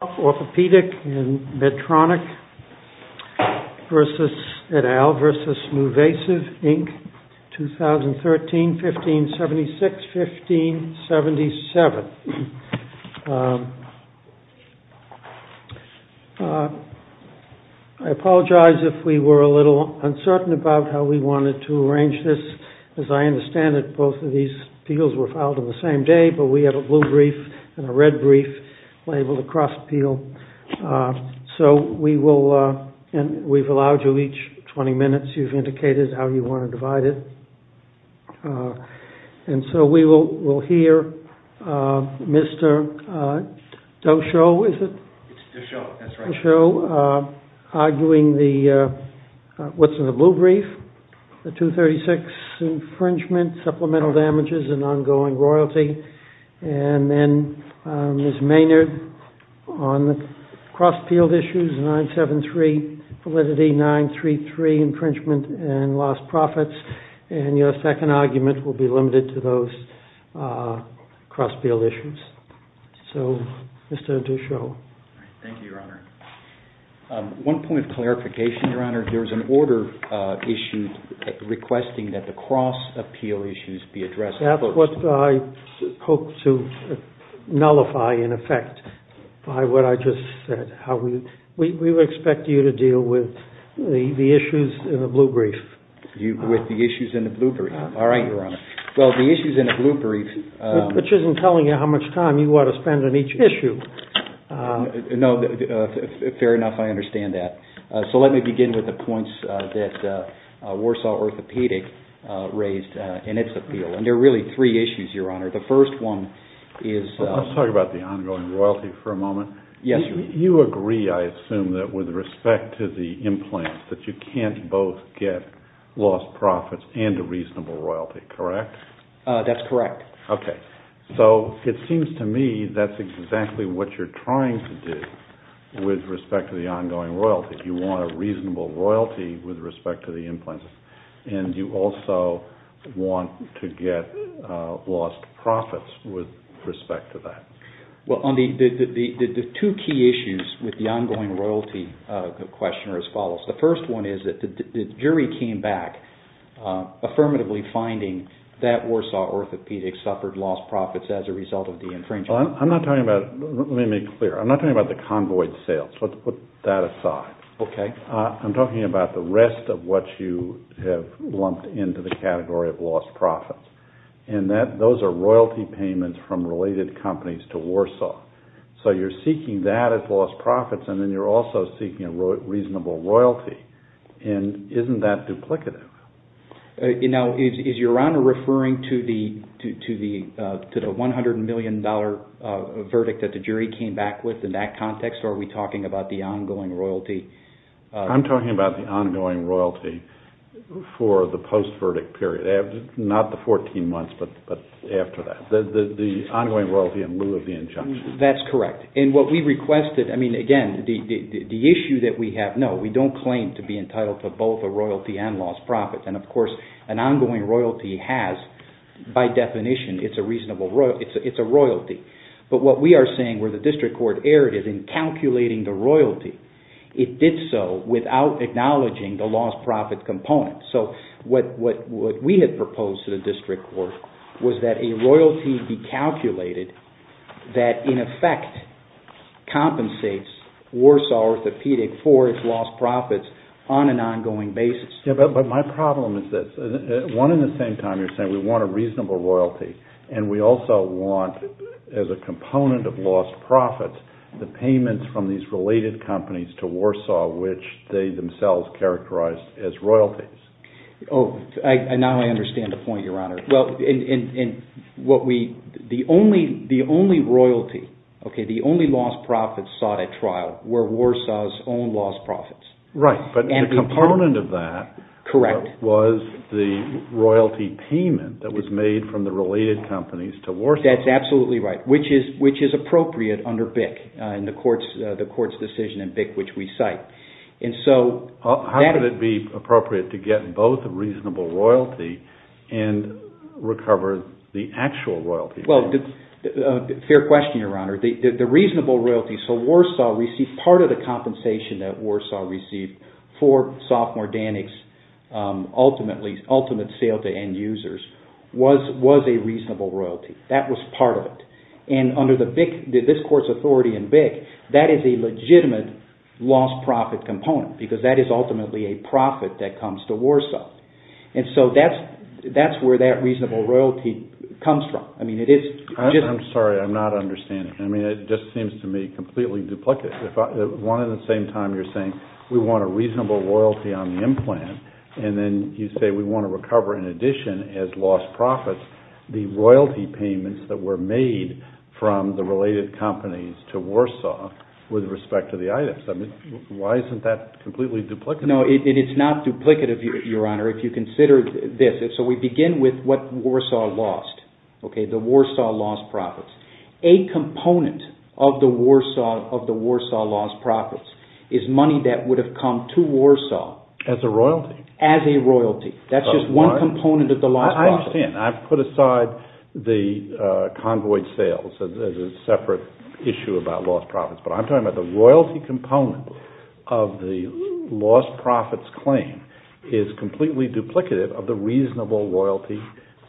Orthopedic and Medtronic et al. v. Nuvasiv, Inc., 2013, 1576-1577. I apologize if we were a little uncertain about how we wanted to arrange this. As I understand it, both of these appeals were filed on the same day, but we had a blue brief and a red brief labeled across appeal. So we will, and we've allowed you each 20 minutes, you've indicated how you want to divide it. And so we will hear Mr. Doshoe, is it? It's Doshoe, that's right. Doshoe arguing the, what's in the blue brief, the 236 infringement, supplemental damages and ongoing royalty, and then Ms. Maynard on the cross-appeal issues, 973 validity, 933 infringement and lost profits. And your second argument will be limited to those cross-appeal issues. So, Mr. Doshoe. Thank you, Your Honor. One point of clarification, Your Honor. There was an order issued requesting that the cross-appeal issues be addressed. That's what I hope to nullify, in effect, by what I just said. We would expect you to deal with the issues in the blue brief. With the issues in the blue brief. All right, Your Honor. Well, the issues in the blue brief. Which isn't telling you how much time you ought to spend on each issue. No, fair enough, I understand that. So let me begin with the points that Warsaw Orthopedic raised in its appeal. And there are really three issues, Your Honor. The first one is... Let's talk about the ongoing royalty for a moment. Yes, Your Honor. You agree, I assume, that with respect to the implants, that you can't both get lost profits and a reasonable royalty, correct? That's correct. Okay. So it seems to me that's exactly what you're trying to do with respect to the ongoing royalty. You want a reasonable royalty with respect to the implants. And you also want to get lost profits with respect to that. Well, the two key issues with the ongoing royalty question are as follows. The first one is that the jury came back affirmatively finding that Warsaw Orthopedic suffered lost profits as a result of the infringement. I'm not talking about... Let me make it clear. I'm not talking about the convoyed sales. Let's put that aside. Okay. I'm talking about the rest of what you have lumped into the category of lost profits. And those are royalty payments from related companies to Warsaw. So you're seeking that as lost profits, and then you're also seeking a reasonable royalty. And isn't that duplicative? Now, is Your Honor referring to the $100 million verdict that the jury came back with in that context, or are we talking about the ongoing royalty? I'm talking about the ongoing royalty for the post-verdict period. Not the 14 months, but after that. The ongoing royalty in lieu of the injunction. That's correct. And what we requested... I mean, again, the issue that we have... No, we don't claim to be entitled to both a royalty and lost profits. And, of course, an ongoing royalty has, by definition, it's a royalty. But what we are saying where the district court erred is in calculating the royalty. It did so without acknowledging the lost profits component. So what we had proposed to the district court was that a royalty be calculated that, in effect, compensates Warsaw Orthopedic for its lost profits on an ongoing basis. Yeah, but my problem is this. One, at the same time, you're saying we want a reasonable royalty. And we also want, as a component of lost profits, the payments from these related companies to Warsaw, which they themselves characterized as royalties. Oh, now I understand the point, Your Honor. Well, the only royalty, the only lost profits sought at trial were Warsaw's own lost profits. Right, but the component of that... Correct. ...was the royalty payment that was made from the related companies to Warsaw. That's absolutely right, which is appropriate under BIC, the court's decision in BIC, which we cite. And so... How could it be appropriate to get both a reasonable royalty and recover the actual royalty? Well, fair question, Your Honor. So part of the compensation that Warsaw received for sophomore Danik's ultimate sale to end users was a reasonable royalty. That was part of it. And under this court's authority in BIC, that is a legitimate lost profit component, because that is ultimately a profit that comes to Warsaw. And so that's where that reasonable royalty comes from. I'm sorry, I'm not understanding. I mean, it just seems to me completely duplicated. One, at the same time, you're saying we want a reasonable royalty on the implant, and then you say we want to recover, in addition, as lost profits, the royalty payments that were made from the related companies to Warsaw with respect to the items. I mean, why isn't that completely duplicative? No, it is not duplicative, Your Honor, if you consider this. So we begin with what Warsaw lost, the Warsaw lost profits. A component of the Warsaw lost profits is money that would have come to Warsaw... As a royalty. As a royalty. That's just one component of the lost profits. I understand. I've put aside the convoyed sales as a separate issue about lost profits. But I'm talking about the royalty component of the lost profits claim is completely duplicative of the reasonable royalty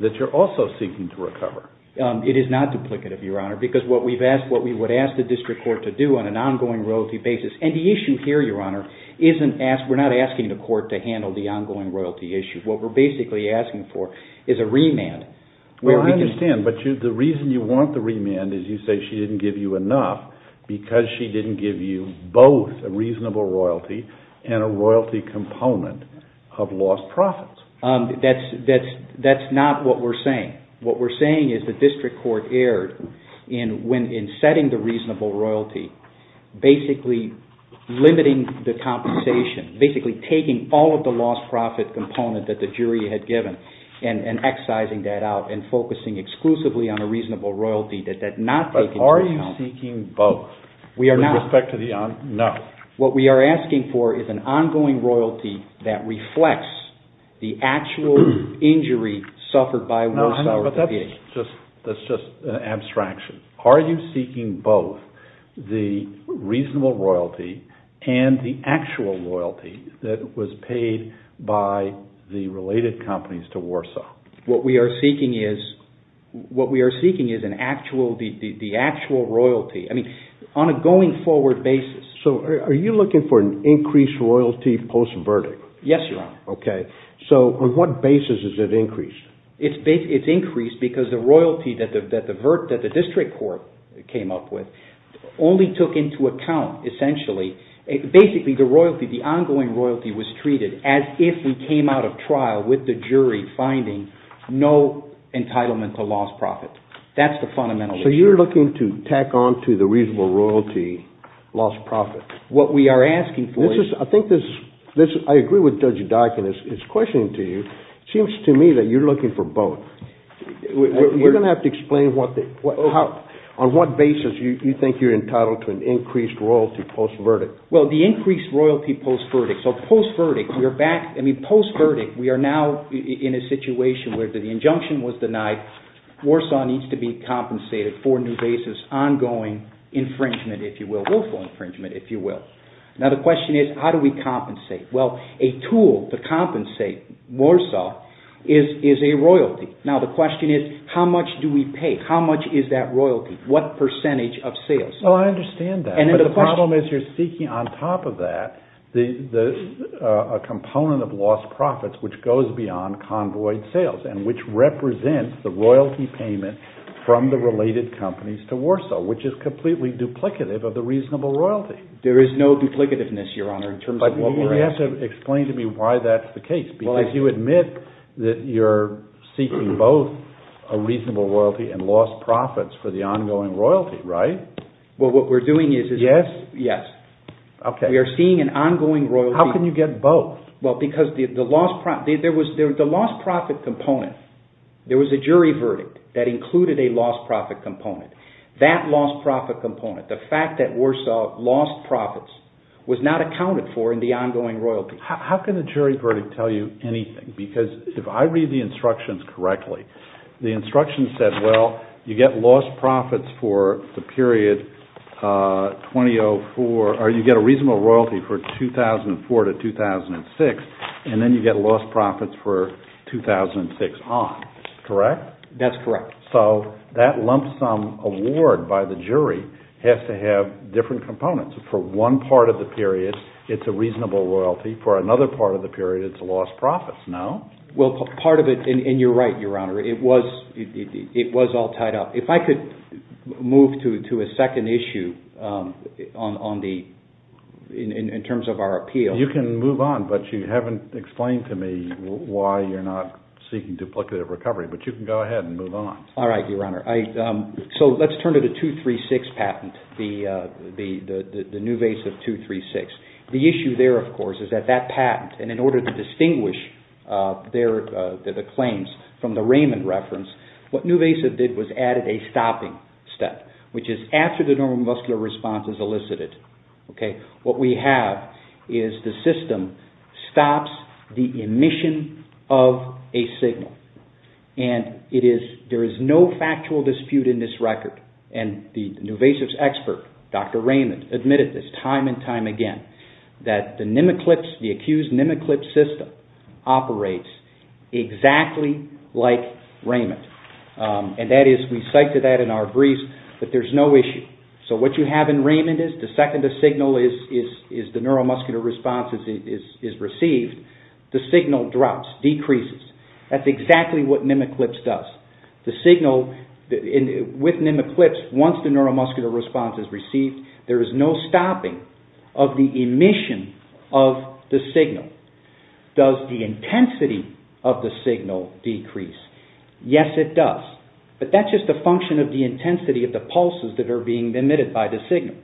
that you're also seeking to recover. It is not duplicative, Your Honor, because what we would ask the district court to do on an ongoing royalty basis... And the issue here, Your Honor, we're not asking the court to handle the ongoing royalty issue. What we're basically asking for is a remand. Well, I understand, but the reason you want the remand is you say she didn't give you enough because she didn't give you both a reasonable royalty and a royalty component of lost profits. That's not what we're saying. What we're saying is the district court erred in setting the reasonable royalty, basically limiting the compensation, basically taking all of the lost profit component that the jury had given and excising that out and focusing exclusively on a reasonable royalty that did not take into account... But are you seeking both with respect to the... No. That's just an abstraction. Are you seeking both the reasonable royalty and the actual royalty that was paid by the related companies to Warsaw? What we are seeking is the actual royalty. I mean, on a going forward basis. So are you looking for an increased royalty post-verdict? Yes, Your Honor. Okay. So on what basis is it increased? It's increased because the royalty that the district court came up with only took into account, essentially, basically the ongoing royalty was treated as if we came out of trial with the jury finding no entitlement to lost profit. That's the fundamental issue. So you're looking to tack on to the reasonable royalty lost profit. What we are asking for is... I think this... I agree with Judge Daikin in his questioning to you. It seems to me that you're looking for both. You're going to have to explain on what basis you think you're entitled to an increased royalty post-verdict. Well, the increased royalty post-verdict. So post-verdict, we are back... I mean, post-verdict, we are now in a situation where the injunction was denied. Warsaw needs to be compensated for new basis, ongoing infringement, if you will, willful infringement, if you will. Now the question is, how do we compensate? Well, a tool to compensate Warsaw is a royalty. Now the question is, how much do we pay? How much is that royalty? What percentage of sales? Well, I understand that. But the problem is you're seeking on top of that a component of lost profits which goes beyond convoyed sales and which represents the royalty payment from the related companies to Warsaw, which is completely duplicative of the reasonable royalty. There is no duplicativeness, Your Honor, in terms of what we're asking. You have to explain to me why that's the case. Because you admit that you're seeking both a reasonable royalty and lost profits for the ongoing royalty, right? Well, what we're doing is... Yes? Yes. Okay. We are seeing an ongoing royalty... How can you get both? Well, because the lost profit component, there was a jury verdict that included a lost profit component. That lost profit component, the fact that Warsaw lost profits, was not accounted for in the ongoing royalty. How can the jury verdict tell you anything? Because if I read the instructions correctly, the instructions said, well, you get lost profits for the period 2004, or you get a reasonable royalty for 2004 to 2006, and then you get lost profits for 2006 on. Correct? That's correct. So that lump sum award by the jury has to have different components. For one part of the period, it's a reasonable royalty. For another part of the period, it's lost profits. No? Well, part of it... And you're right, Your Honor. It was all tied up. If I could move to a second issue in terms of our appeal... You can move on, but you haven't explained to me why you're not seeking duplicative recovery. But you can go ahead and move on. All right, Your Honor. So let's turn to the 236 patent, the Nuvasiv 236. The issue there, of course, is that that patent, and in order to distinguish the claims from the Raymond reference, what Nuvasiv did was added a stopping step, which is after the normal muscular response is elicited, what we have is the system stops the emission of a signal. And there is no factual dispute in this record. And the Nuvasiv's expert, Dr. Raymond, admitted this time and time again, that the Nemeclips, the accused Nemeclips system operates exactly like Raymond. And that is, we cited that in our briefs, but there's no issue. So what you have in Raymond is, the second the neuromuscular response is received, the signal drops, decreases. That's exactly what Nemeclips does. With Nemeclips, once the neuromuscular response is received, there is no stopping of the emission of the signal. Does the intensity of the signal decrease? Yes, it does. But that's just a function of the intensity of the pulses that are being emitted by the signal.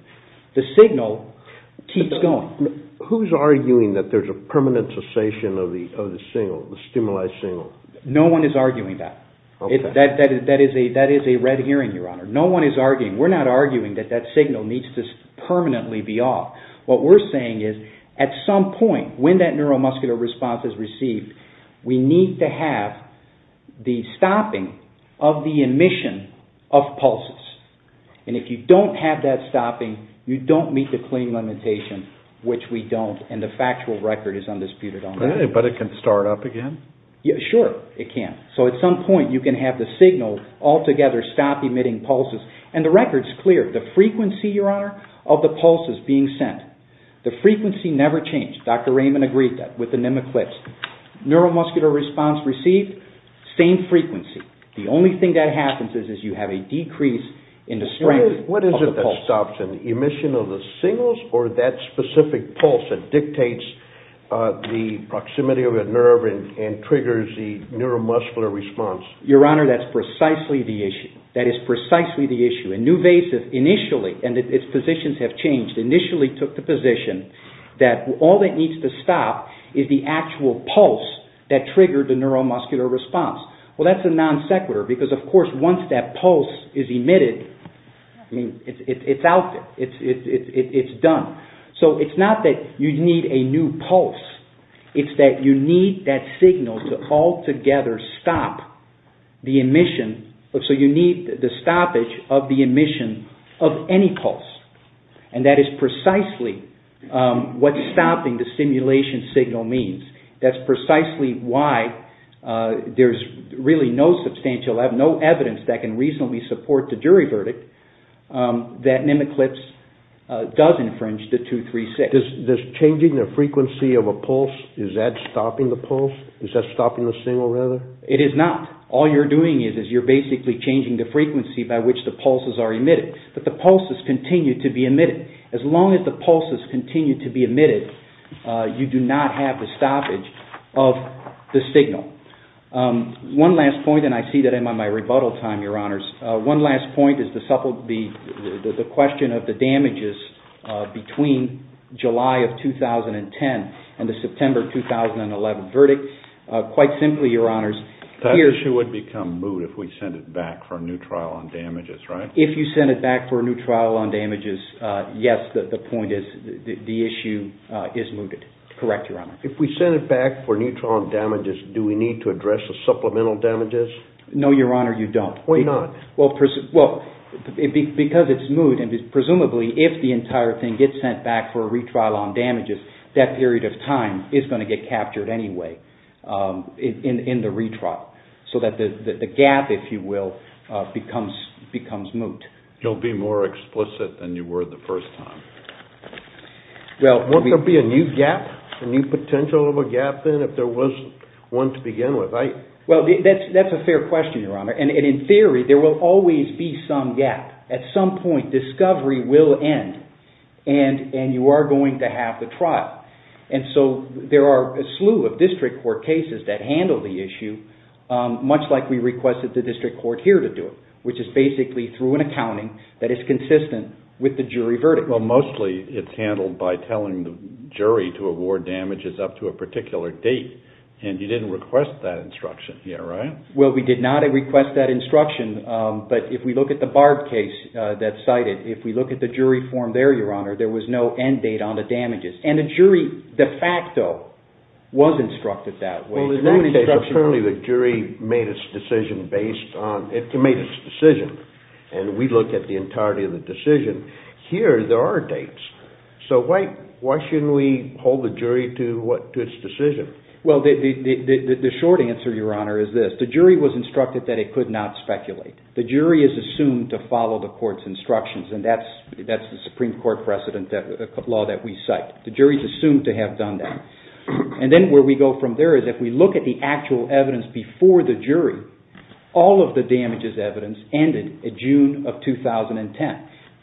The signal keeps going. Who's arguing that there's a permanent cessation of the stimuli signal? No one is arguing that. That is a red herring, Your Honor. No one is arguing. We're not arguing that that signal needs to permanently be off. What we're saying is, at some point, when that neuromuscular response is received, we need to have the stopping of the emission of pulses. And if you don't have that stopping, you don't meet the claim limitation, which we don't, and the factual record is undisputed on that. But it can start up again? Sure, it can. So at some point, you can have the signal altogether stop emitting pulses. And the record's clear. The frequency, Your Honor, of the pulse is being sent. The frequency never changed. Dr. Raymond agreed that with the nematodes. Neuromuscular response received, same frequency. The only thing that happens is you have a decrease in the strength of the pulse. What is it that stops it? The emission of the signals or that specific pulse that dictates the proximity of the nerve and triggers the neuromuscular response? Your Honor, that's precisely the issue. And Nuvasiv initially, and its positions have changed, initially took the position that all it needs to stop is the actual pulse that triggered the neuromuscular response. Well, that's a non sequitur because, of course, once that pulse is emitted, it's out. It's done. So it's not that you need a new pulse. It's that you need that signal to altogether stop the emission. So you need the stoppage of the emission of any pulse. And that is precisely what stopping the stimulation signal means. That's precisely why there's really no substantial evidence that can reasonably support the jury verdict that Mimiclips does infringe the 236. Does changing the frequency of a pulse, is that stopping the pulse? Is that stopping the signal rather? It is not. All you're doing is you're basically changing the frequency by which the pulses are emitted. But the pulses continue to be emitted. As long as the pulses continue to be emitted, you do not have the stoppage of the signal. One last point, and I see that I'm on my rebuttal time, Your Honors. One last point is the question of the damages between July of 2010 and the September 2011 verdict. Quite simply, Your Honors. That issue would become moot if we sent it back for a new trial on damages, right? If you send it back for a new trial on damages, yes, the point is the issue is mooted. Correct, Your Honor. If we send it back for a new trial on damages, do we need to address the supplemental damages? No, Your Honor, you don't. Why not? Because it's moot, and presumably if the entire thing gets sent back for a retrial on damages, that period of time is going to get captured anyway in the retrial. So that the gap, if you will, becomes moot. You'll be more explicit than you were the first time. Won't there be a new gap, a new potential of a gap then if there was one to begin with? Well, that's a fair question, Your Honor. And in theory, there will always be some gap. At some point, discovery will end, and you are going to have the trial. And so there are a slew of district court cases that handle the issue, much like we requested the district court here to do it, which is basically through an accounting that is consistent with the jury verdict. Well, mostly it's handled by telling the jury to award damages up to a particular date, and you didn't request that instruction here, right? Well, we did not request that instruction. But if we look at the Barb case that's cited, if we look at the jury form there, Your Honor, there was no end date on the damages. And the jury de facto was instructed that way. Well, in that case, apparently the jury made its decision based on – it made its decision. And we look at the entirety of the decision. Here, there are dates. So why shouldn't we hold the jury to its decision? Well, the short answer, Your Honor, is this. The jury was instructed that it could not speculate. The jury is assumed to follow the court's instructions, and that's the Supreme Court precedent law that we cite. The jury is assumed to have done that. And then where we go from there is if we look at the actual evidence before the jury, all of the damages evidence ended in June of 2010.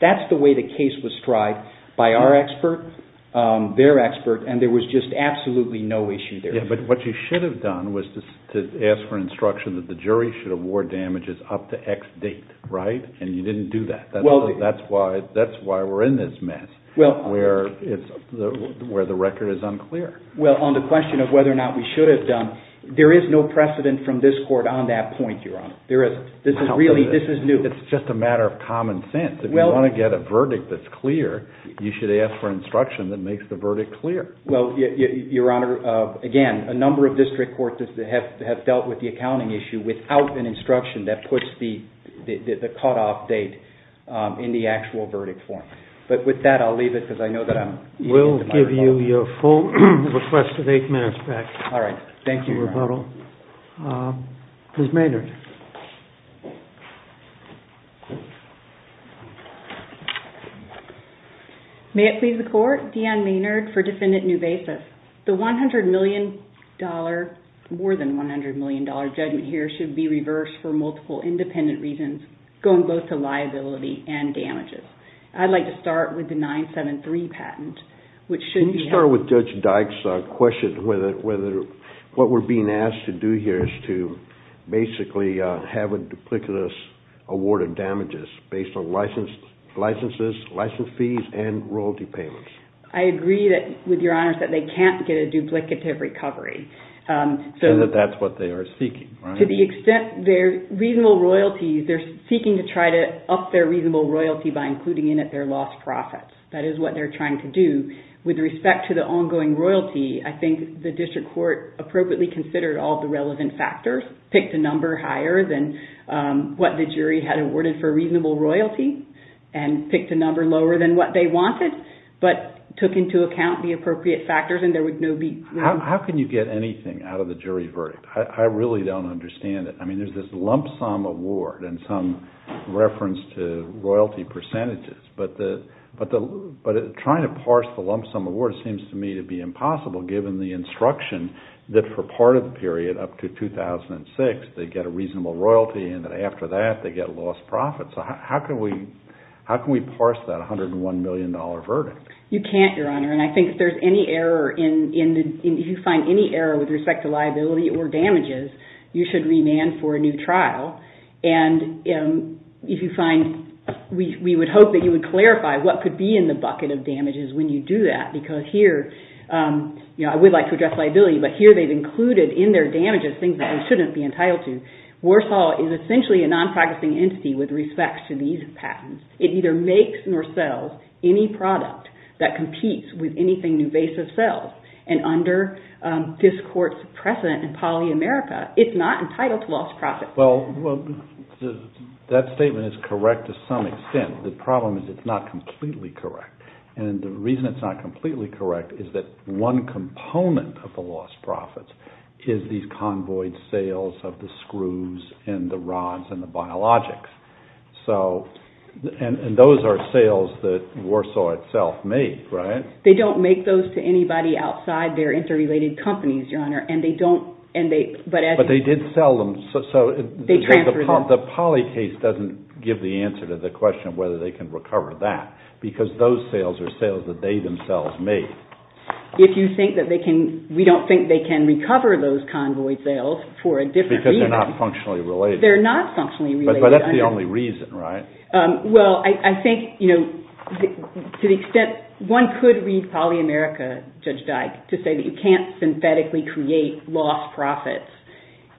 That's the way the case was tried by our expert, their expert, and there was just absolutely no issue there. Yeah, but what you should have done was to ask for instruction that the jury should award damages up to X date, right? And you didn't do that. That's why we're in this mess where the record is unclear. Well, on the question of whether or not we should have done, there is no precedent from this court on that point, Your Honor. This is new. It's just a matter of common sense. If you want to get a verdict that's clear, you should ask for instruction that makes the verdict clear. Well, Your Honor, again, a number of district courts have dealt with the accounting issue without an instruction that puts the cutoff date in the actual verdict form. But with that, I'll leave it because I know that I'm eating into my rebuttal. We'll give you your full request of eight minutes back. All right. Thank you, Your Honor. Ms. Maynard. May it please the court? Deanne Maynard for Defendant Newbasis. The $100 million, more than $100 million judgment here should be reversed for multiple independent reasons going both to liability and damages. I'd like to start with the 973 patent, which should be- Let's start with Judge Dyke's question is to basically make a statement that says we have a duplicitous award of damages based on licenses, license fees, and royalty payments. I agree with Your Honor that they can't get a duplicative recovery. And that that's what they are seeking, right? To the extent their reasonable royalties, they're seeking to try to up their reasonable royalty by including in it their lost profits. That is what they're trying to do. With respect to the ongoing royalty, I think the district court appropriately considered all the relevant factors, picked a number higher than what the jury had awarded for reasonable royalty and picked a number lower than what they wanted, but took into account the appropriate factors and there would no be- How can you get anything out of the jury verdict? I really don't understand it. I mean, there's this lump sum award and some reference to royalty percentages, but trying to parse the lump sum award seems to me to be impossible given the instruction that for part of the period up to 2006 they get a reasonable royalty and that after that they get lost profits. How can we parse that $101 million verdict? You can't, Your Honor. And I think if there's any error in- If you find any error with respect to liability or damages, you should remand for a new trial. And if you find- We would hope that you would clarify what could be in the bucket of damages when you do that because here- I would like to address liability, but here they've included in their damages things that they shouldn't be entitled to. Warsaw is essentially a non-practicing entity with respect to these patents. It either makes nor sells any product that competes with anything new base of sales. And under this court's precedent in poly-America, it's not entitled to lost profits. Well, that statement is correct to some extent. The problem is it's not completely correct. And the reason it's not completely correct is that one component of the lost profits is these convoyed sales of the screws and the rods and the biologics. So, and those are sales that Warsaw itself made, right? They don't make those to anybody outside their interrelated companies, Your Honor, and they don't- But they did sell them, so- They transferred them. The poly case doesn't give the answer to the question of whether they can recover that because those sales are sales that they themselves made. If you think that they can- We don't think they can recover those convoyed sales for a different reason. Because they're not functionally related. They're not functionally related. But that's the only reason, right? Well, I think, you know, to the extent- One could read poly-America, Judge Dyke, to say that you can't synthetically create lost profits.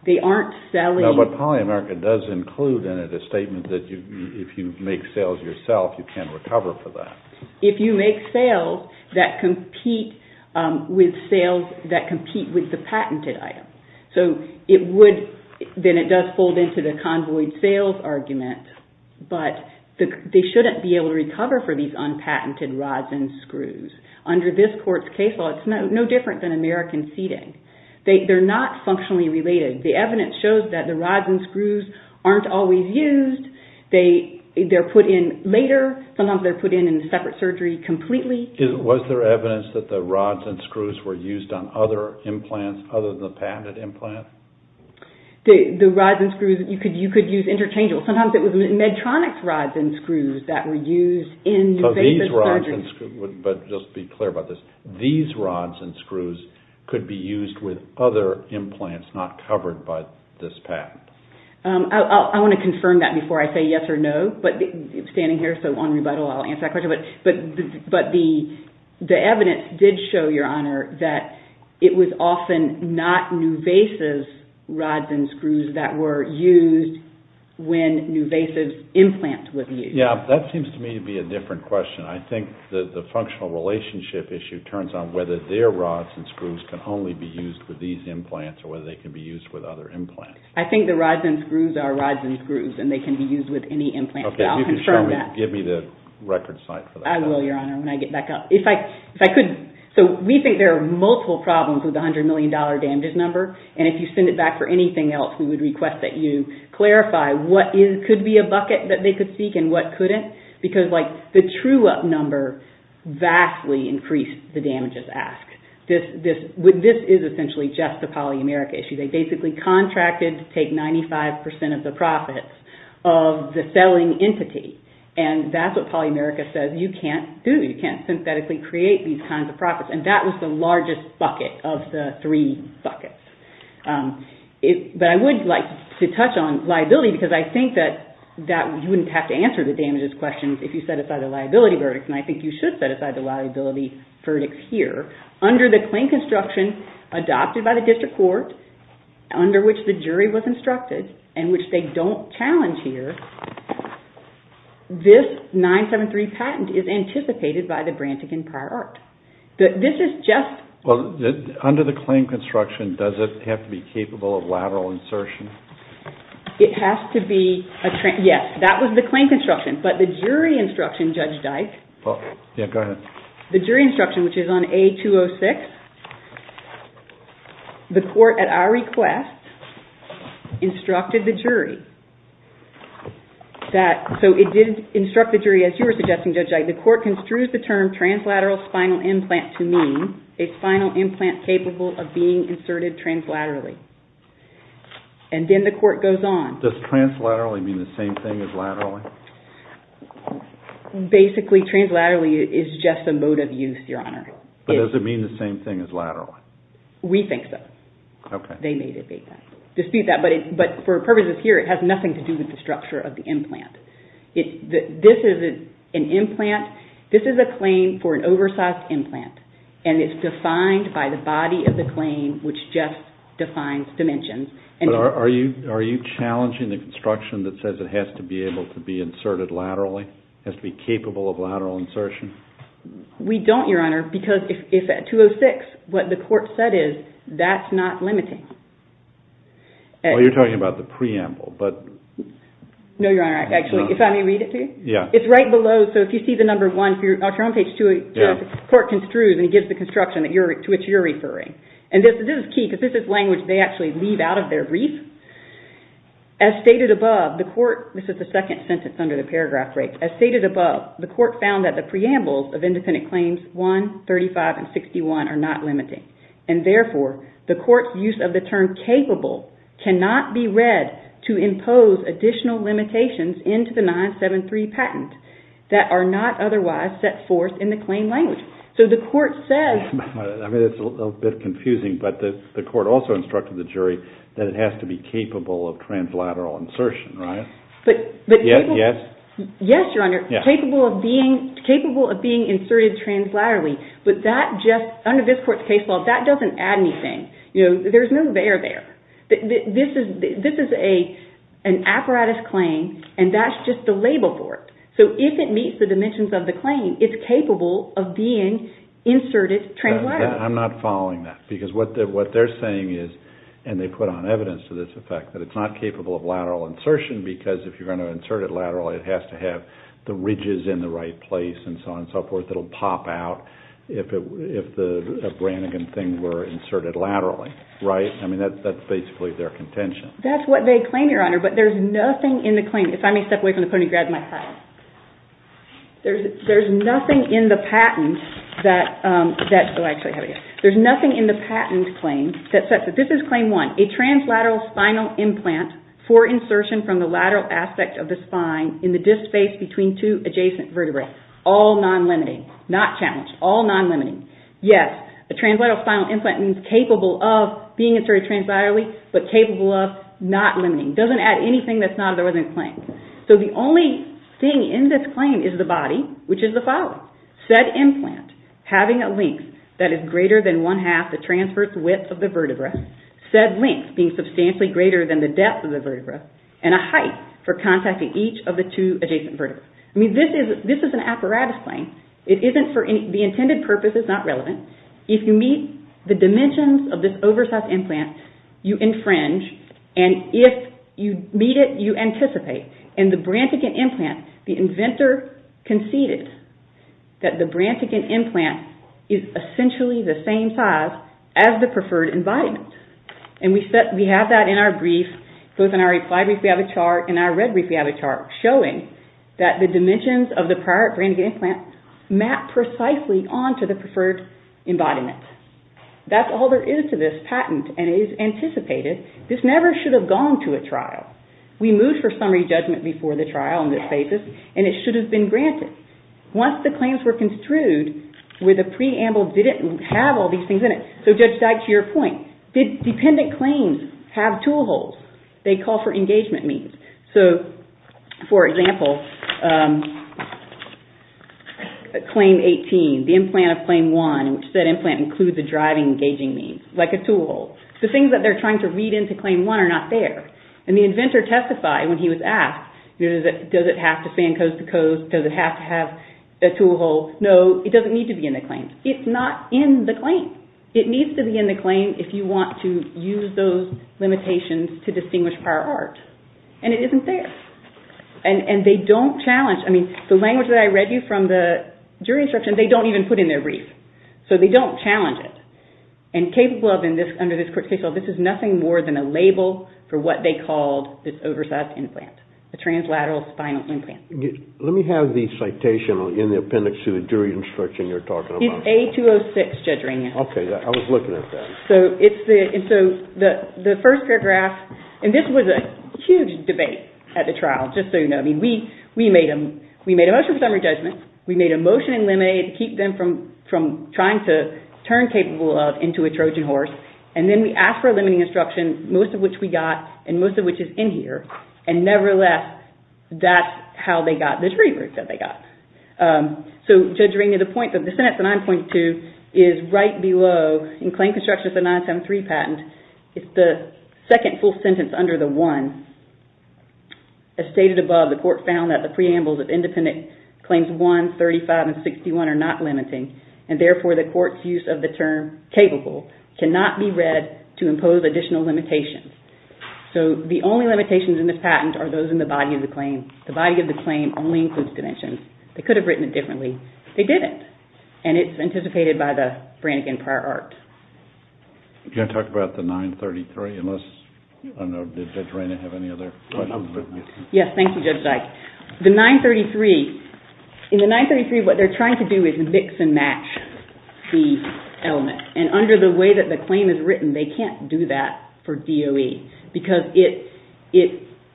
They aren't selling- No, but poly-America does include in it a statement that if you make sales yourself, you can recover for that. If you make sales that compete with sales that compete with the patented item. So it would- Then it does fold into the convoyed sales argument, but they shouldn't be able to recover for these unpatented rods and screws. Under this court's case law, it's no different than American seating. They're not functionally related. The evidence shows that the rods and screws aren't always used. They're put in later. Sometimes they're put in in a separate surgery completely. Was there evidence that the rods and screws were used on other implants other than the patented implant? The rods and screws, you could use interchangeable. Sometimes it was Medtronic's rods and screws that were used in- So these rods and screws- But just be clear about this. These rods and screws could be used with other implants not covered by this patent. I want to confirm that before I say yes or no. But standing here, so on rebuttal, I'll answer that question. But the evidence did show, Your Honor, that it was often not Nuvasiv's rods and screws that were used when Nuvasiv's implant was used. Yeah, that seems to me to be a different question. I think the functional relationship issue turns on whether their rods and screws can only be used with these implants or whether they can be used with other implants. I think the rods and screws are rods and screws and they can be used with any implant. So I'll confirm that. Give me the record site for that. I will, Your Honor, when I get back up. If I could- So we think there are multiple problems with the $100 million damages number. And if you send it back for anything else, we would request that you clarify what could be a bucket that they could seek and what couldn't. Because the true-up number vastly increased the damages asked. This is essentially just a polyameric issue. They basically contracted to take 95% of the profits of the selling entity. And that's what polyamerica says you can't do. You can't synthetically create these kinds of profits. And that was the largest bucket of the three buckets. But I would like to touch on liability because I think that you wouldn't have to answer the damages questions if you set aside a liability verdict. And I think you should set aside the liability verdict here. Under the claim construction adopted by the district court, under which the jury was instructed, and which they don't challenge here, this 973 patent is anticipated by the Brantigan Prior Art. This is just- Well, under the claim construction, does it have to be capable of lateral insertion? It has to be- Yes, that was the claim construction. But the jury instruction, Judge Dyke- Yeah, go ahead. The jury instruction, which is on A-206, the court at our request instructed the jury that- So it did instruct the jury, as you were suggesting, Judge Dyke, the court construes the term translateral spinal implant to mean a spinal implant capable of being inserted translaterally. And then the court goes on- Does translaterally mean the same thing as laterally? Basically, translaterally is just a mode of use, Your Honor. But does it mean the same thing as laterally? We think so. Okay. They may dispute that, but for purposes here, it has nothing to do with the structure of the implant. This is an implant. This is a claim for an oversized implant, and it's defined by the body of the claim, which just defines dimensions. But are you challenging the construction that says it has to be able to be inserted laterally, has to be capable of lateral insertion? We don't, Your Honor, because 206, what the court said is that's not limiting. Well, you're talking about the preamble, but- No, Your Honor. Actually, if I may read it to you? Yeah. It's right below. So if you see the number one, if you're on page 206, the court construes and gives the construction to which you're referring. And this is key, because this is language they actually leave out of their brief. As stated above, the court- This is the second sentence under the paragraph break. As stated above, the court found that the preambles of independent claims 1, 35, and 61 are not limiting. And therefore, the court's use of the term capable cannot be read to impose additional limitations into the 973 patent that are not otherwise set forth in the claim language. So the court says- I mean, it's a bit confusing, but the court also instructed the jury that it has to be capable of translateral insertion, right? Yes, Your Honor. Capable of being inserted translaterally. But that just, under this court's case law, that doesn't add anything. There's no there there. This is an apparatus claim, and that's just the label for it. So if it meets the dimensions of the claim, it's capable of being inserted translaterally. I'm not following that, because what they're saying is, and they put on evidence to this effect, that it's not capable of lateral insertion, because if you're going to insert it laterally, it has to have the ridges in the right place, and so on and so forth. It'll pop out if the Brannigan thing were inserted laterally, right? I mean, that's basically their contention. That's what they claim, Your Honor, but there's nothing in the claim. If I may step away from the podium and grab my hat. There's nothing in the patent that- Oh, I actually have it here. There's nothing in the patent claim that says- This is claim one. A translateral spinal implant for insertion from the lateral aspect of the spine in the disk space between two adjacent vertebrae. All non-limiting. Not challenged. All non-limiting. Yes, a translateral spinal implant is capable of being inserted translaterally, but capable of not limiting. It doesn't add anything that's not in the claim. So the only thing in this claim is the body, which is the following. Said implant having a length that is greater than one-half the transverse width of the vertebra, said length being substantially greater than the depth of the vertebra, and a height for contacting each of the two adjacent vertebrae. I mean, this is an apparatus claim. It isn't for- The intended purpose is not relevant. If you meet the dimensions of this oversized implant, you infringe, and if you meet it, you anticipate. In the Brantigan implant, the inventor conceded that the Brantigan implant is essentially the same size as the preferred embodiment. And we have that in our brief, both in our applied brief we have a chart, and our read brief we have a chart, showing that the dimensions of the prior Brantigan implant map precisely onto the preferred embodiment. That's all there is to this patent, and it is anticipated. This never should have gone to a trial. We moved for summary judgment before the trial on this basis, and it should have been granted. Once the claims were construed where the preamble didn't have all these things in it, so Judge Dyke, to your point, did dependent claims have tool holes? They call for engagement means. So, for example, Claim 18, the implant of Claim 1, which said implant includes a driving engaging means, like a tool hole. The things that they're trying to read into Claim 1 are not there. And the inventor testified when he was asked, does it have to fan coast to coast? Does it have to have a tool hole? No, it doesn't need to be in the claim. It's not in the claim. It needs to be in the claim if you want to use those limitations to distinguish prior art. And it isn't there. And they don't challenge, I mean, the language that I read you from the jury instruction, they don't even put in their brief. So they don't challenge it. And capable of, under this court's case law, this is nothing more than a label for what they called this oversized implant, a translateral spinal implant. Let me have the citation in the appendix to the jury instruction you're talking about. It's A-206, Judge Rainier. Okay, I was looking at that. And so the first paragraph, and this was a huge debate at the trial, just so you know. I mean, we made a motion for summary judgment. We made a motion in limine to keep them from trying to turn capable of into a Trojan horse. And then we asked for a limiting instruction, most of which we got, and most of which is in here. And nevertheless, that's how they got this revert that they got. So, Judge Rainier, the point, the sentence, the 9.2, is right below, in Claim Constructions, the 973 patent, it's the second full sentence under the 1. As stated above, the court found that the preambles of independent claims 1, 35, and 61 are not limiting, and therefore the court's use of the term capable cannot be read to impose additional limitations. So the only limitations in this patent are those in the body of the claim. The body of the claim only includes conventions. They could have written it differently. They didn't. And it's anticipated by the Brannigan Prior Art. Can I talk about the 9.33? Unless, I don't know, did Judge Rainier have any other questions? Yes, thank you, Judge Dyke. The 9.33, in the 9.33, what they're trying to do is mix and match the element. And under the way that the claim is written, they can't do that for DOE because it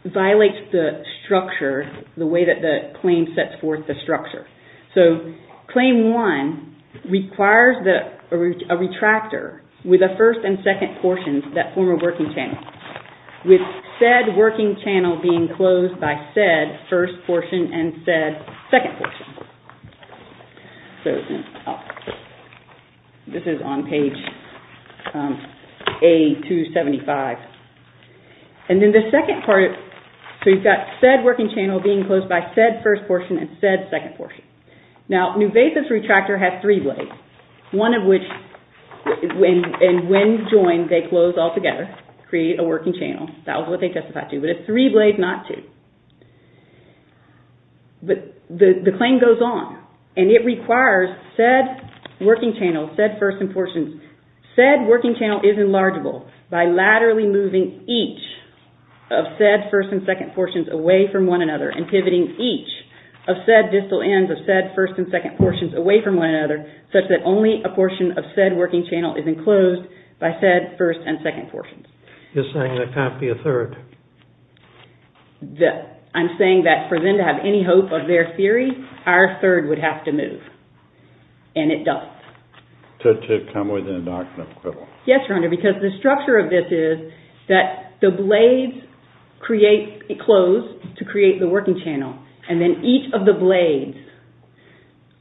violates the structure, the way that the claim sets forth the structure. So claim 1 requires a retractor with a first and second portion that form a working channel, with said working channel being closed by said first portion and said second portion. This is on page A275. And then the second part, so you've got said working channel being closed by said first portion and said second portion. Now, Nuvasa's retractor has three blades, one of which, and when joined, they close all together to create a working channel. That was what they testified to. But it's three blades, not two. But the claim goes on. And it requires said working channel, said first and portions, said working channel is enlargeable by laterally moving each of said first and second portions away from one another and pivoting each of said distal ends, of said first and second portions away from one another such that only a portion of said working channel is enclosed by said first and second portions. You're saying there can't be a third? I'm saying that for them to have any hope of their theory, our third would have to move. And it does. To come within a doctrine of quibble. Yes, Your Honor, because the structure of this is that the blades close to create the working channel. And then each of the blades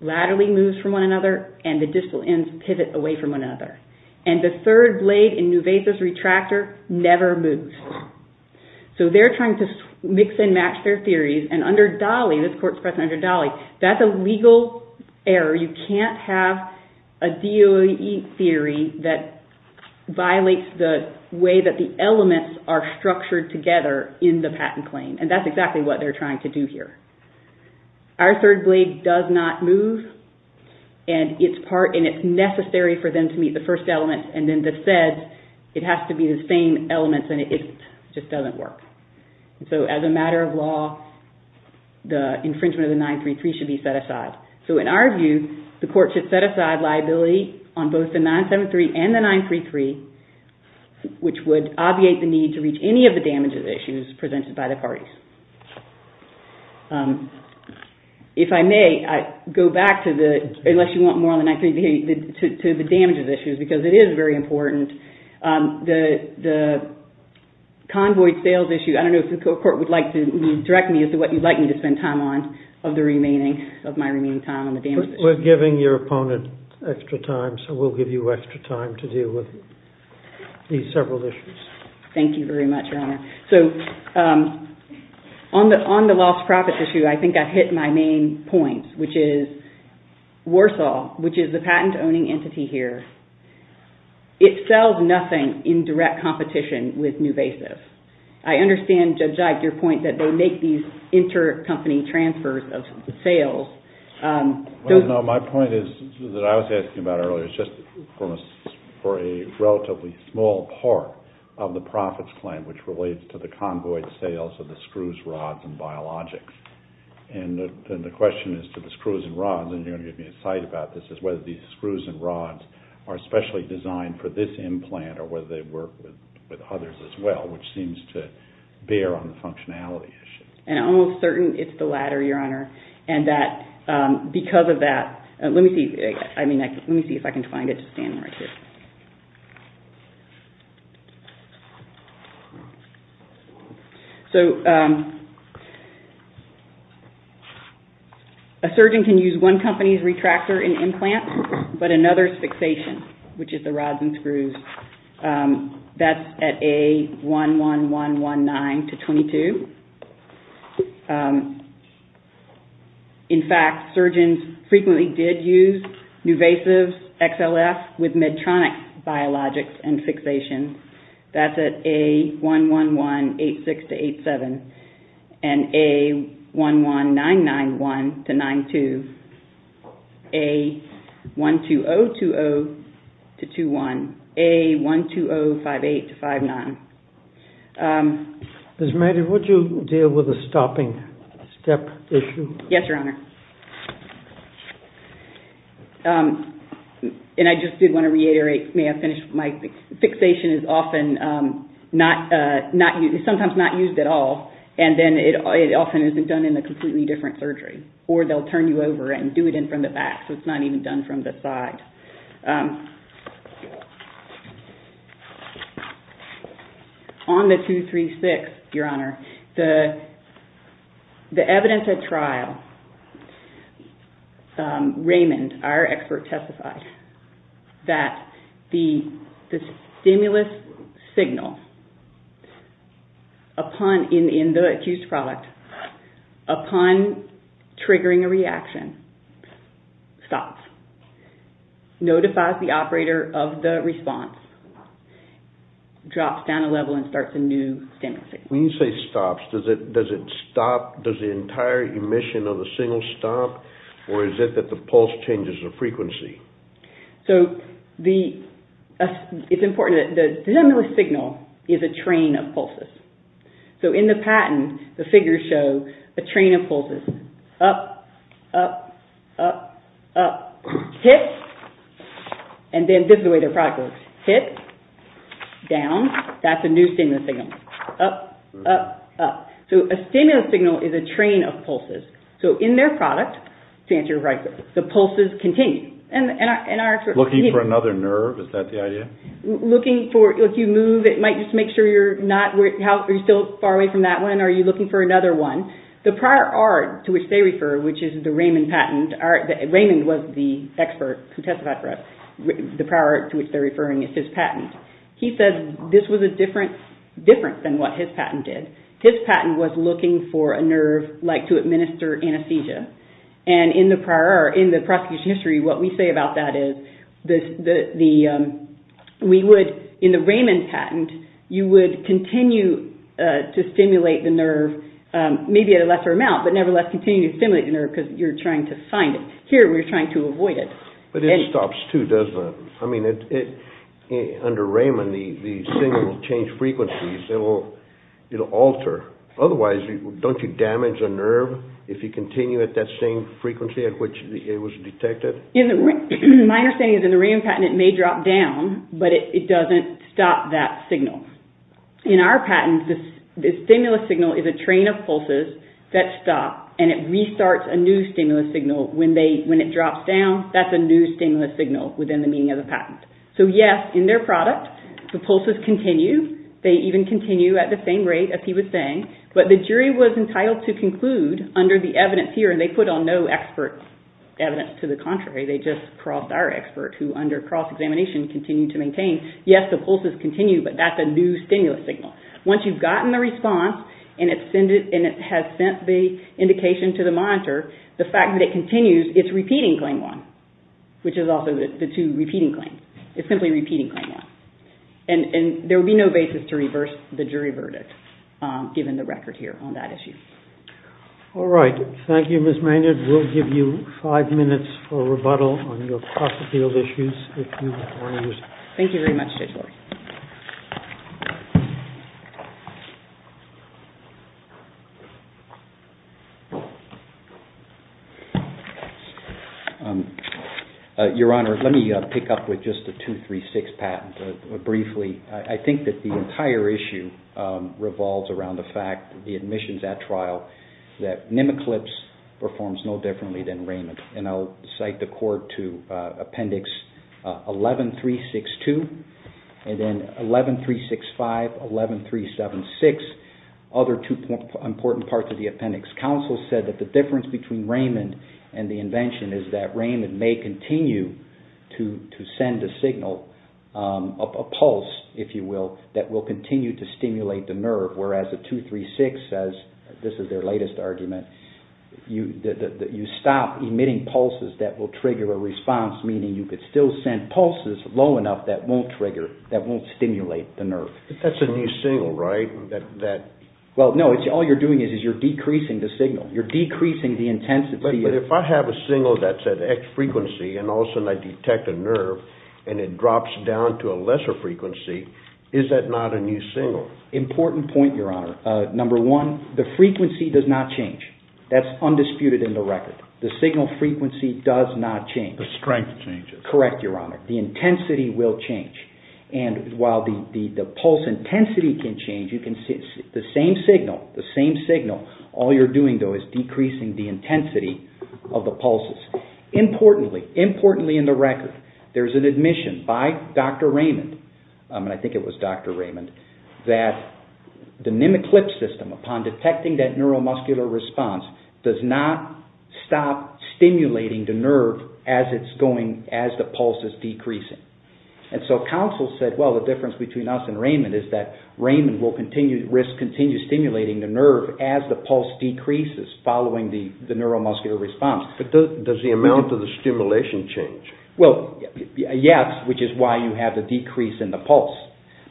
laterally moves from one another and the distal ends pivot away from one another. And the third blade in Nuveza's retractor never moves. So they're trying to mix and match their theories. And under Dolly, this court's precedent under Dolly, that's a legal error. You can't have a DOAE theory that violates the way that the elements are structured together in the patent claim. And that's exactly what they're trying to do here. Our third blade does not move. And it's necessary for them to meet the first element. And then the said, it has to be the same elements. And it just doesn't work. So as a matter of law, the infringement of the 933 should be set aside. So in our view, the court should set aside liability on both the 973 and the 933, which would obviate the need to reach any of the damages issues presented by the parties. If I may, I go back to the, unless you want more on the 933, to the damages issues, because it is very important. The convoy sales issue, I don't know if the court would like to direct me as to what you'd like me to spend time on of the remaining, of my remaining time on the damages issues. We're giving your opponent extra time, so we'll give you extra time to deal with these several issues. Thank you very much, Your Honor. So on the lost profits issue, I think I hit my main point, which is Warsaw, which is the patent-owning entity here, it sells nothing in direct competition with Nuvasis. I understand, Judge Ike, your point that they make these inter-company transfers of sales. No, my point is, that I was asking about earlier, for a relatively small part of the profits claim, which relates to the convoy sales of the screws, rods, and biologics. And the question is to the screws and rods, and you're going to give me a cite about this, is whether these screws and rods are specially designed for this implant, or whether they work with others as well, which seems to bear on the functionality issue. And I'm almost certain it's the latter, Your Honor. And that, because of that, let me see if I can find it to stand right here. A surgeon can use one company's retractor in implants, but another's fixation, which is the rods and screws, that's at A11119-22. In fact, surgeons frequently did use Nuvasiv's XLF with Medtronic biologics and fixation. That's at A11186-87, and A11991-92, A12020-21, A12058-59. Ms. Maddie, would you deal with the stopping step issue? Yes, Your Honor. And I just did want to reiterate, may I finish, my fixation is often not, sometimes not used at all, and then it often isn't done in a completely different surgery, or they'll turn you over and do it in from the back, so it's not even done from the side. On the 236, Your Honor, the evidence at trial, Raymond, our expert, testified that the stimulus signal in the accused product, upon triggering a reaction, stops, notifies the operator of the response, drops down a level and starts a new stimulus signal. When you say stops, does it stop, does the entire emission of the signal stop, or is it that the pulse changes the frequency? So the, it's important that the stimulus signal is a train of pulses. So in the patent, the figures show a train of pulses. Up, up, up, up, hit, and then this is the way their product works. Hit, down, that's a new stimulus signal. Up, up, up. So a stimulus signal is a train of pulses. So in their product, to answer your question, the pulses continue. Looking for another nerve, is that the idea? Looking for, if you move, it might just make sure you're not, are you still far away from that one, are you looking for another one? The prior art to which they refer, which is the Raymond patent, Raymond was the expert who testified for us, the prior art to which they're referring is his patent. He said this was a difference than what his patent did. His patent was looking for a nerve like to administer anesthesia. And in the prosecution history, what we say about that is, we would, in the Raymond patent, you would continue to stimulate the nerve, maybe at a lesser amount, but nevertheless continue to stimulate the nerve because you're trying to find it. Here, we're trying to avoid it. But it stops too, doesn't it? I mean, under Raymond, the signal will change frequencies. It'll alter. Otherwise, don't you damage a nerve if you continue at that same frequency at which it was detected? My understanding is in the Raymond patent, it may drop down, but it doesn't stop that signal. In our patent, the stimulus signal is a train of pulses that stop, and it restarts a new stimulus signal. When it drops down, that's a new stimulus signal within the meaning of the patent. So yes, in their product, the pulses continue. They even continue at the same rate as he was saying. But the jury was entitled to conclude under the evidence here, and they put on no expert evidence to the contrary. They just crossed our expert, who under cross-examination, continued to maintain, yes, the pulses continue, but that's a new stimulus signal. Once you've gotten the response, and it has sent the indication to the monitor, the fact that it continues, it's repeating claim one, which is also the two repeating claims. It's simply repeating claim one. And there would be no basis to reverse the jury verdict, given the record here on that issue. All right. Thank you, Ms. Maynard. We'll give you five minutes for rebuttal on your cross-field issues. Thank you very much, Judge Lord. Your Honor, let me pick up with just the 236 patent briefly. I think that the entire issue revolves around the fact that the admissions at trial that Mimiclips performs no differently than Raymond. And I'll cite the court to appendix 11362, and then 11365, 11376, all the way up to 11376, the other two important parts of the appendix. Counsel said that the difference between Raymond and the invention is that Raymond may continue to send a signal, a pulse, if you will, that will continue to stimulate the nerve, whereas the 236 says, this is their latest argument, that you stop emitting pulses that will trigger a response, meaning you could still send pulses low enough that won't stimulate the nerve. That's a new signal, right? Well, no, all you're doing is you're decreasing the signal. You're decreasing the intensity. But if I have a signal that's at X frequency and all of a sudden I detect a nerve and it drops down to a lesser frequency, is that not a new signal? Important point, Your Honor. Number one, the frequency does not change. That's undisputed in the record. The signal frequency does not change. The strength changes. Correct, Your Honor. The intensity will change. And while the pulse intensity can change, the same signal, all you're doing, though, is decreasing the intensity of the pulses. Importantly, in the record, there's an admission by Dr. Raymond, and I think it was Dr. Raymond, that the MimicLip system, upon detecting that neuromuscular response, does not stop stimulating the nerve as the pulse is decreasing. And so counsel said, well, the difference between us and Raymond is that Raymond will continue stimulating the nerve as the pulse decreases following the neuromuscular response. But does the amount of the stimulation change? Well, yes, which is why you have the decrease in the pulse.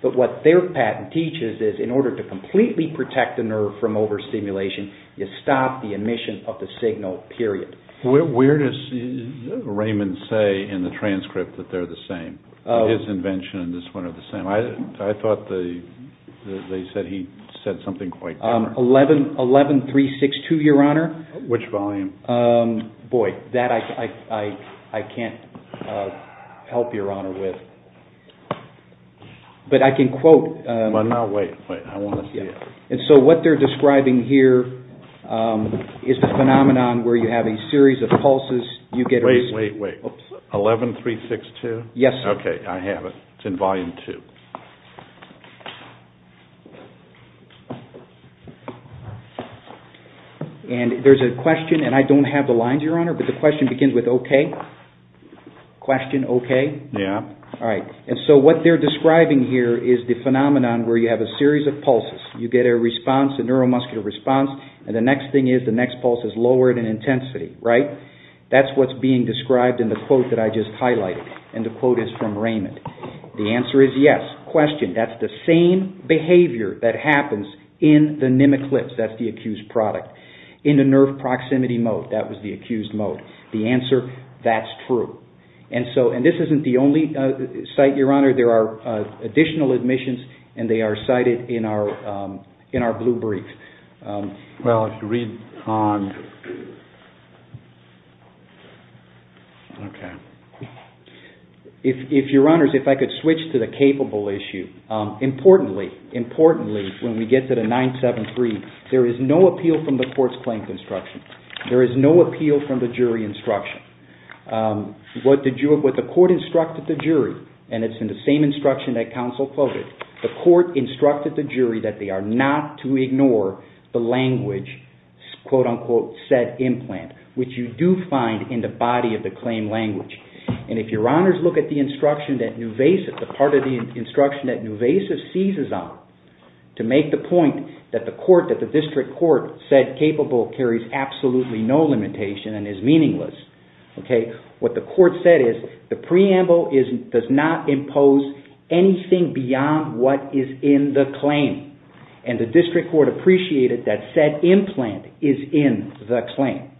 But what their patent teaches is in order to completely protect the nerve from overstimulation, you stop the emission of the signal, period. Where does Raymond say in the transcript that they're the same? His invention and this one are the same. I thought they said he said something quite different. 11.362, Your Honor. Which volume? Boy, that I can't help, Your Honor, with. But I can quote. Now, wait. I want to see it. And so what they're describing here is the phenomenon where you have a series of pulses. Wait, wait, wait. 11.362? Yes, sir. Okay, I have it. It's in volume two. And there's a question, and I don't have the lines, Your Honor, but the question begins with okay. Question, okay? Yeah. All right. And so what they're describing here is the phenomenon where you have a series of pulses. You get a response, a neuromuscular response, and the next thing is the next pulse is lowered in intensity, right? That's what's being described in the quote that I just highlighted. And the quote is from Raymond. The answer is yes. Question, that's the same behavior that happens in the nemeclips. That's the accused product. In the nerve proximity mode, that was the accused mode. The answer, that's true. And this isn't the only site, Your Honor. There are additional admissions, and they are cited in our blue brief. Well, if you read on... Okay. If, Your Honors, if I could switch to the capable issue. Importantly, importantly, when we get to the 973, there is no appeal from the court's claims instruction. There is no appeal from the jury instruction. What the court instructed the jury, and it's in the same instruction that counsel quoted, the court instructed the jury that they are not to ignore the language, quote, unquote, said implant, which you do find in the body of the claim language. And if Your Honors look at the instruction that Nuvasiv, the part of the instruction that Nuvasiv seizes on to make the point that the court, that the district court said capable carries absolutely no limitation and is meaningless, okay, what the court said is the preamble does not impose anything beyond what is in the claim. And the district court appreciated that said implant is in the claim.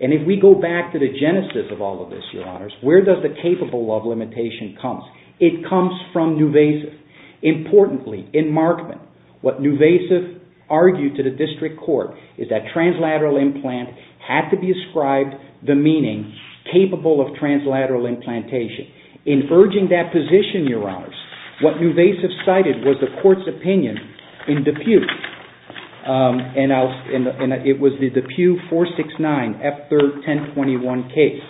And if we go back to the genesis of all of this, Your Honors, where does the capable of limitation come? It comes from Nuvasiv. Importantly, in Markman, what Nuvasiv argued to the district court is that translateral implant had to be ascribed the meaning capable of translateral implantation. In urging that position, Your Honors, what Nuvasiv cited was the court's opinion in DePuy, and it was the DePuy 469 F3-1021 case.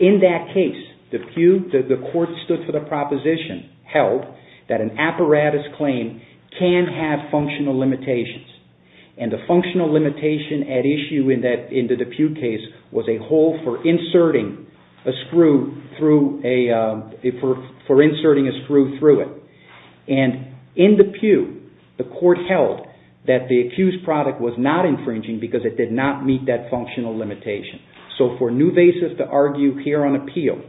In that case, DePuy, the court stood for the proposition held that an apparatus claim can have functional limitations. And the functional limitation at issue in the DePuy case was a hole for inserting a screw through a, for inserting a screw through it. And in DePuy, the court held that the accused product was not infringing because it did not meet that functional limitation. So for Nuvasiv to argue here on appeal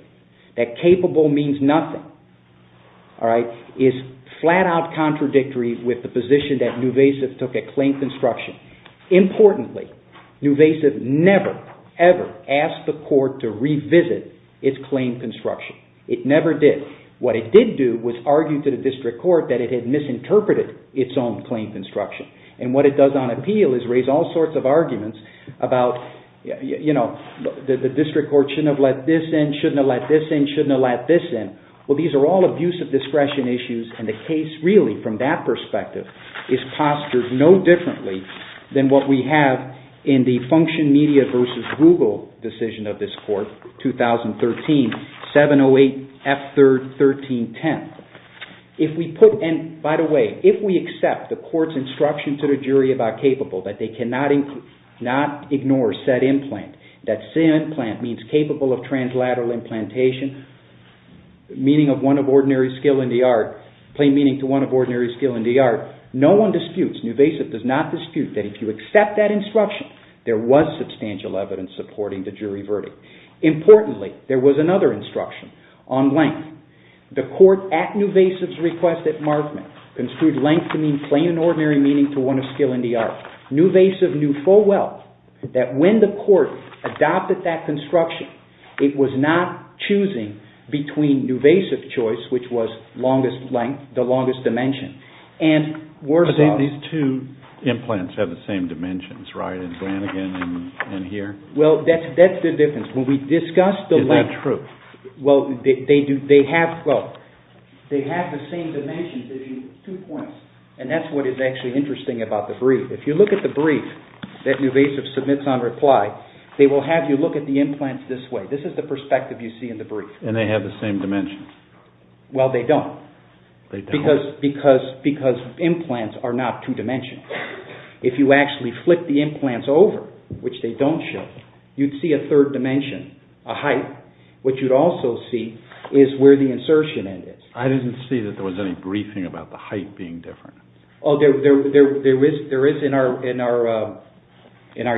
that capable means nothing, is flat out contradictory with the position that Nuvasiv took at claim construction. Importantly, Nuvasiv never, ever asked the court to revisit its claim construction. It never did. What it did do was argue to the district court that it had misinterpreted its own claim construction. And what it does on appeal is raise all sorts of arguments about, you know, the district court shouldn't have let this in, shouldn't have let this in, shouldn't have let this in. Well, these are all abuse of discretion issues, and the case, really, from that perspective, is postured no differently than what we have in the Function Media v. Google decision of this court, 2013, 708 F.3.13.10. If we put, and by the way, if we accept the court's instruction to the jury about capable, that they cannot ignore said implant, that said implant means capable of translateral implantation, meaning of one of ordinary skill in the art, plain meaning to one of ordinary skill in the art, no one disputes, Nuvasiv does not dispute that if you accept that instruction, there was substantial evidence supporting the jury verdict. Importantly, there was another instruction on length. The court, at Nuvasiv's request, at Markman, construed length to mean plain and ordinary meaning to one of skill in the art. Nuvasiv knew full well that when the court adopted that construction, it was not choosing between Nuvasiv's choice, which was longest length, the longest dimension, and Warsaw's. But, Dave, these two implants have the same dimensions, right, in Flanagan and here? Well, that's the difference. When we discuss the length... Is that true? Well, they have the same dimensions, two points, and that's what is actually interesting about the brief. If you look at the brief that Nuvasiv submits on reply, they will have you look at the implants this way. This is the perspective you see in the brief. And they have the same dimensions? Well, they don't. They don't. Because implants are not two-dimensional. If you actually flip the implants over, which they don't show, you'd see a third dimension, a height. What you'd also see is where the insertion end is. I didn't see that there was any briefing about the height being different. Oh, there is in our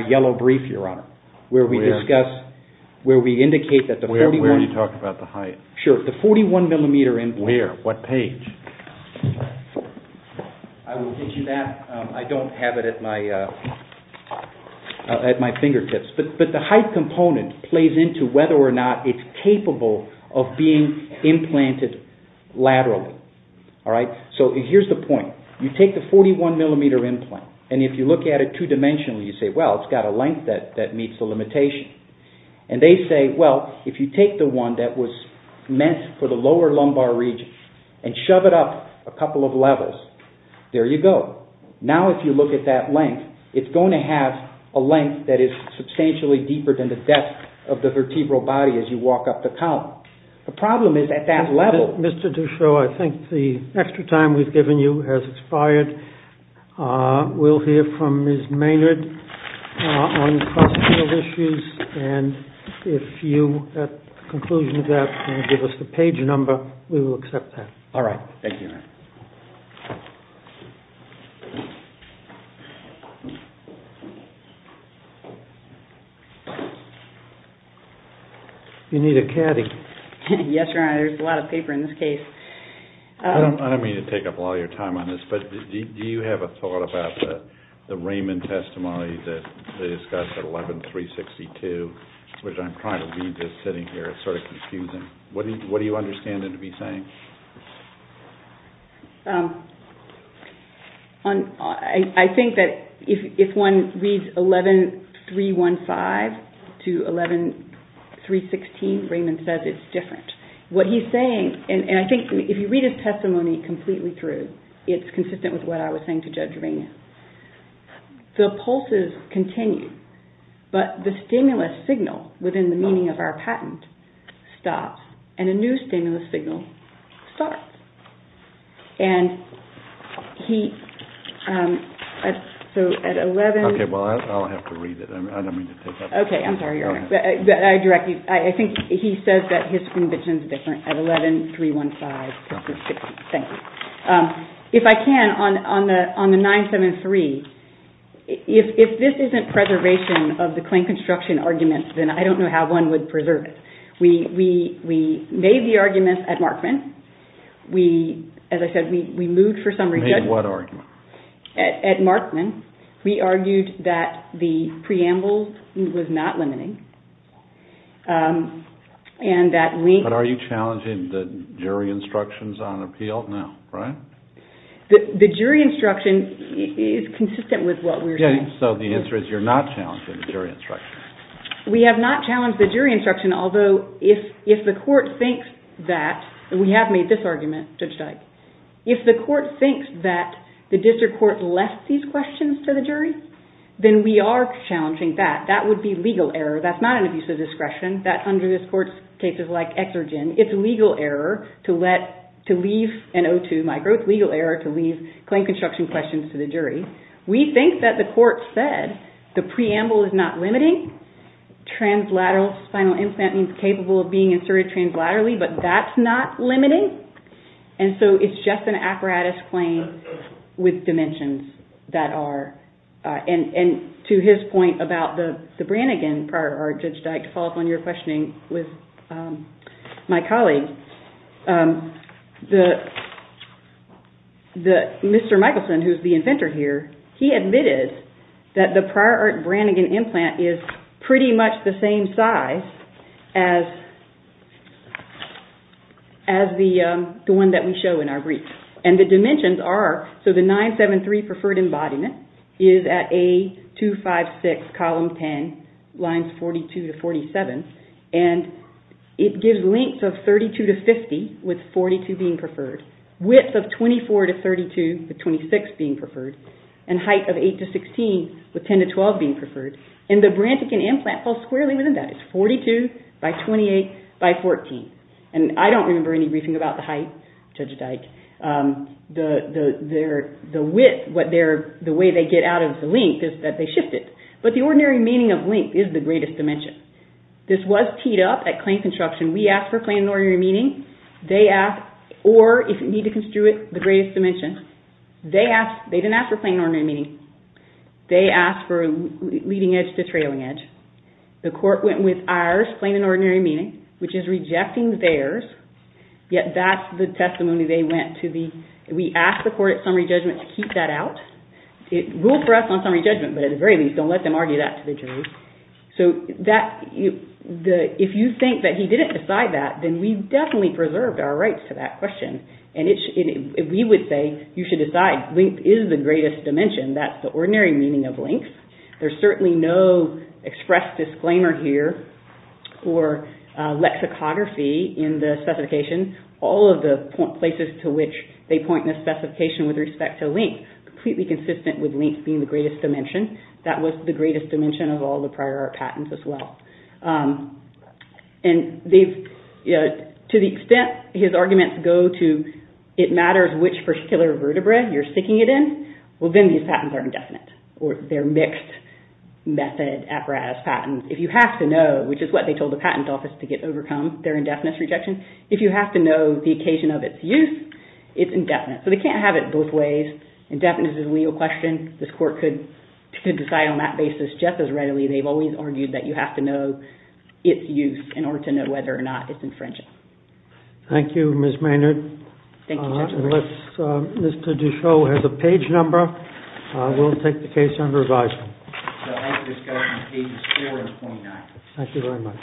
yellow brief, Your Honor, where we discuss, where we indicate that the 41... Where are you talking about the height? Sure, the 41 millimeter implant. Where? What page? I will get you that. I don't have it at my fingertips. But the height component plays into whether or not it's capable of being implanted laterally. So, here's the point. You take the 41 millimeter implant, and if you look at it two-dimensionally, you say, well, it's got a length that meets the limitation. And they say, well, if you take the one that was meant for the lower lumbar region and shove it up a couple of levels, there you go. Now, if you look at that length, it's going to have a length that is substantially deeper than the depth of the vertebral body as you walk up the column. The problem is at that level... Mr. Duchot, I think the extra time we've given you has expired. We'll hear from Ms. Maynard on the cross-field issues, and if you, at the conclusion of that, can give us the page number, we will accept that. All right. Thank you, Your Honor. You need a caddy. Yes, Your Honor. There's a lot of paper in this case. I don't mean to take up all your time on this, but do you have a thought about the Raymond testimony that they discussed at 11-362, which I'm trying to read just sitting here. It's sort of confusing. What do you understand it to be saying? I think that if one reads 11-362, 11-315 to 11-316, Raymond says it's different. What he's saying, and I think if you read his testimony completely through, it's consistent with what I was saying to Judge Rainey. The pulses continue, but the stimulus signal within the meaning of our patent stops, and a new stimulus signal starts. And he... So at 11... Okay, well, I'll have to read it. I don't mean to take up... Okay, I'm sorry, Your Honor. I direct you. I think he says that his conviction's different at 11-315-362. Thank you. If I can, on the 973, if this isn't preservation of the claim construction arguments, then I don't know how one would preserve it. We made the arguments at Markman. We, as I said, we moved for summary judgment. Made what argument? At Markman, we argued that the preamble was not limiting and that we... But are you challenging the jury instructions on appeal now, right? The jury instruction is consistent with what we were saying. Okay, so the answer is you're not challenging the jury instruction. We have not challenged the jury instruction, although if the court thinks that, and we have made this argument, Judge Dyke, if the court thinks that the district court left these questions to the jury, then we are challenging that. That would be legal error. That's not an abuse of discretion. That's under this court's cases like Exergen. It's legal error to let, to leave, and O2, my growth, legal error to leave claim construction questions to the jury. We think that the court said the preamble is not limiting. Translateral spinal instant means capable of being inserted translaterally, but that's not limiting. And so it's just an apparatus claim with dimensions that are, and to his point about the Brannigan prior art, Judge Dyke, to follow up on your questioning with my colleague, Mr. Michelson, who's the inventor here, he admitted that the prior art Brannigan implant is pretty much the same size as the one that we show in our brief. And the dimensions are, so the 973 preferred embodiment is at A256 column 10, lines 42 to 47, and it gives lengths of 32 to 50, with 42 being preferred, width of 24 to 32, with 26 being preferred, and height of 8 to 16, with 10 to 12 being preferred. And the Brannigan implant falls squarely within that. It's 42 by 28 by 14. And I don't remember any briefing about the height, Judge Dyke. The width, the way they get out of the length is that they shift it. But the ordinary meaning of length is the greatest dimension. This was teed up at claim construction. We asked for plain and ordinary meaning. They asked, or if you need to construe it, the greatest dimension. They didn't ask for plain and ordinary meaning. They asked for leading edge to trailing edge. The court went with ours, plain and ordinary meaning, which is rejecting theirs, yet that's the testimony they went to. We asked the court at summary judgment to keep that out. It ruled for us on summary judgment, but at the very least, don't let them argue that to the jury. So if you think that he didn't decide that, then we definitely preserved our rights to that question. And we would say, you should decide. Length is the greatest dimension. That's the ordinary meaning of length. There's certainly no express disclaimer here or lexicography in the specification. All of the places to which they point in the specification with respect to length completely consistent with length being the greatest dimension. That was the greatest dimension of all the prior art patents as well. To the extent his arguments go to, it matters which particular vertebra you're sticking it in, well, then these patents are indefinite or they're mixed method apparatus patents. If you have to know, which is what they told the patent office to get overcome, they're indefinite rejection. If you have to know the occasion of its use, it's indefinite. So they can't have it both ways. Indefinite is a legal question. This court could decide on that basis just as readily. They've always argued that you have to know its use in order to know whether or not it's infringing. Thank you, Ms. Maynard. Thank you, Judge. Mr. Duchot has a page number. We'll take the case under revision. Thank you very much.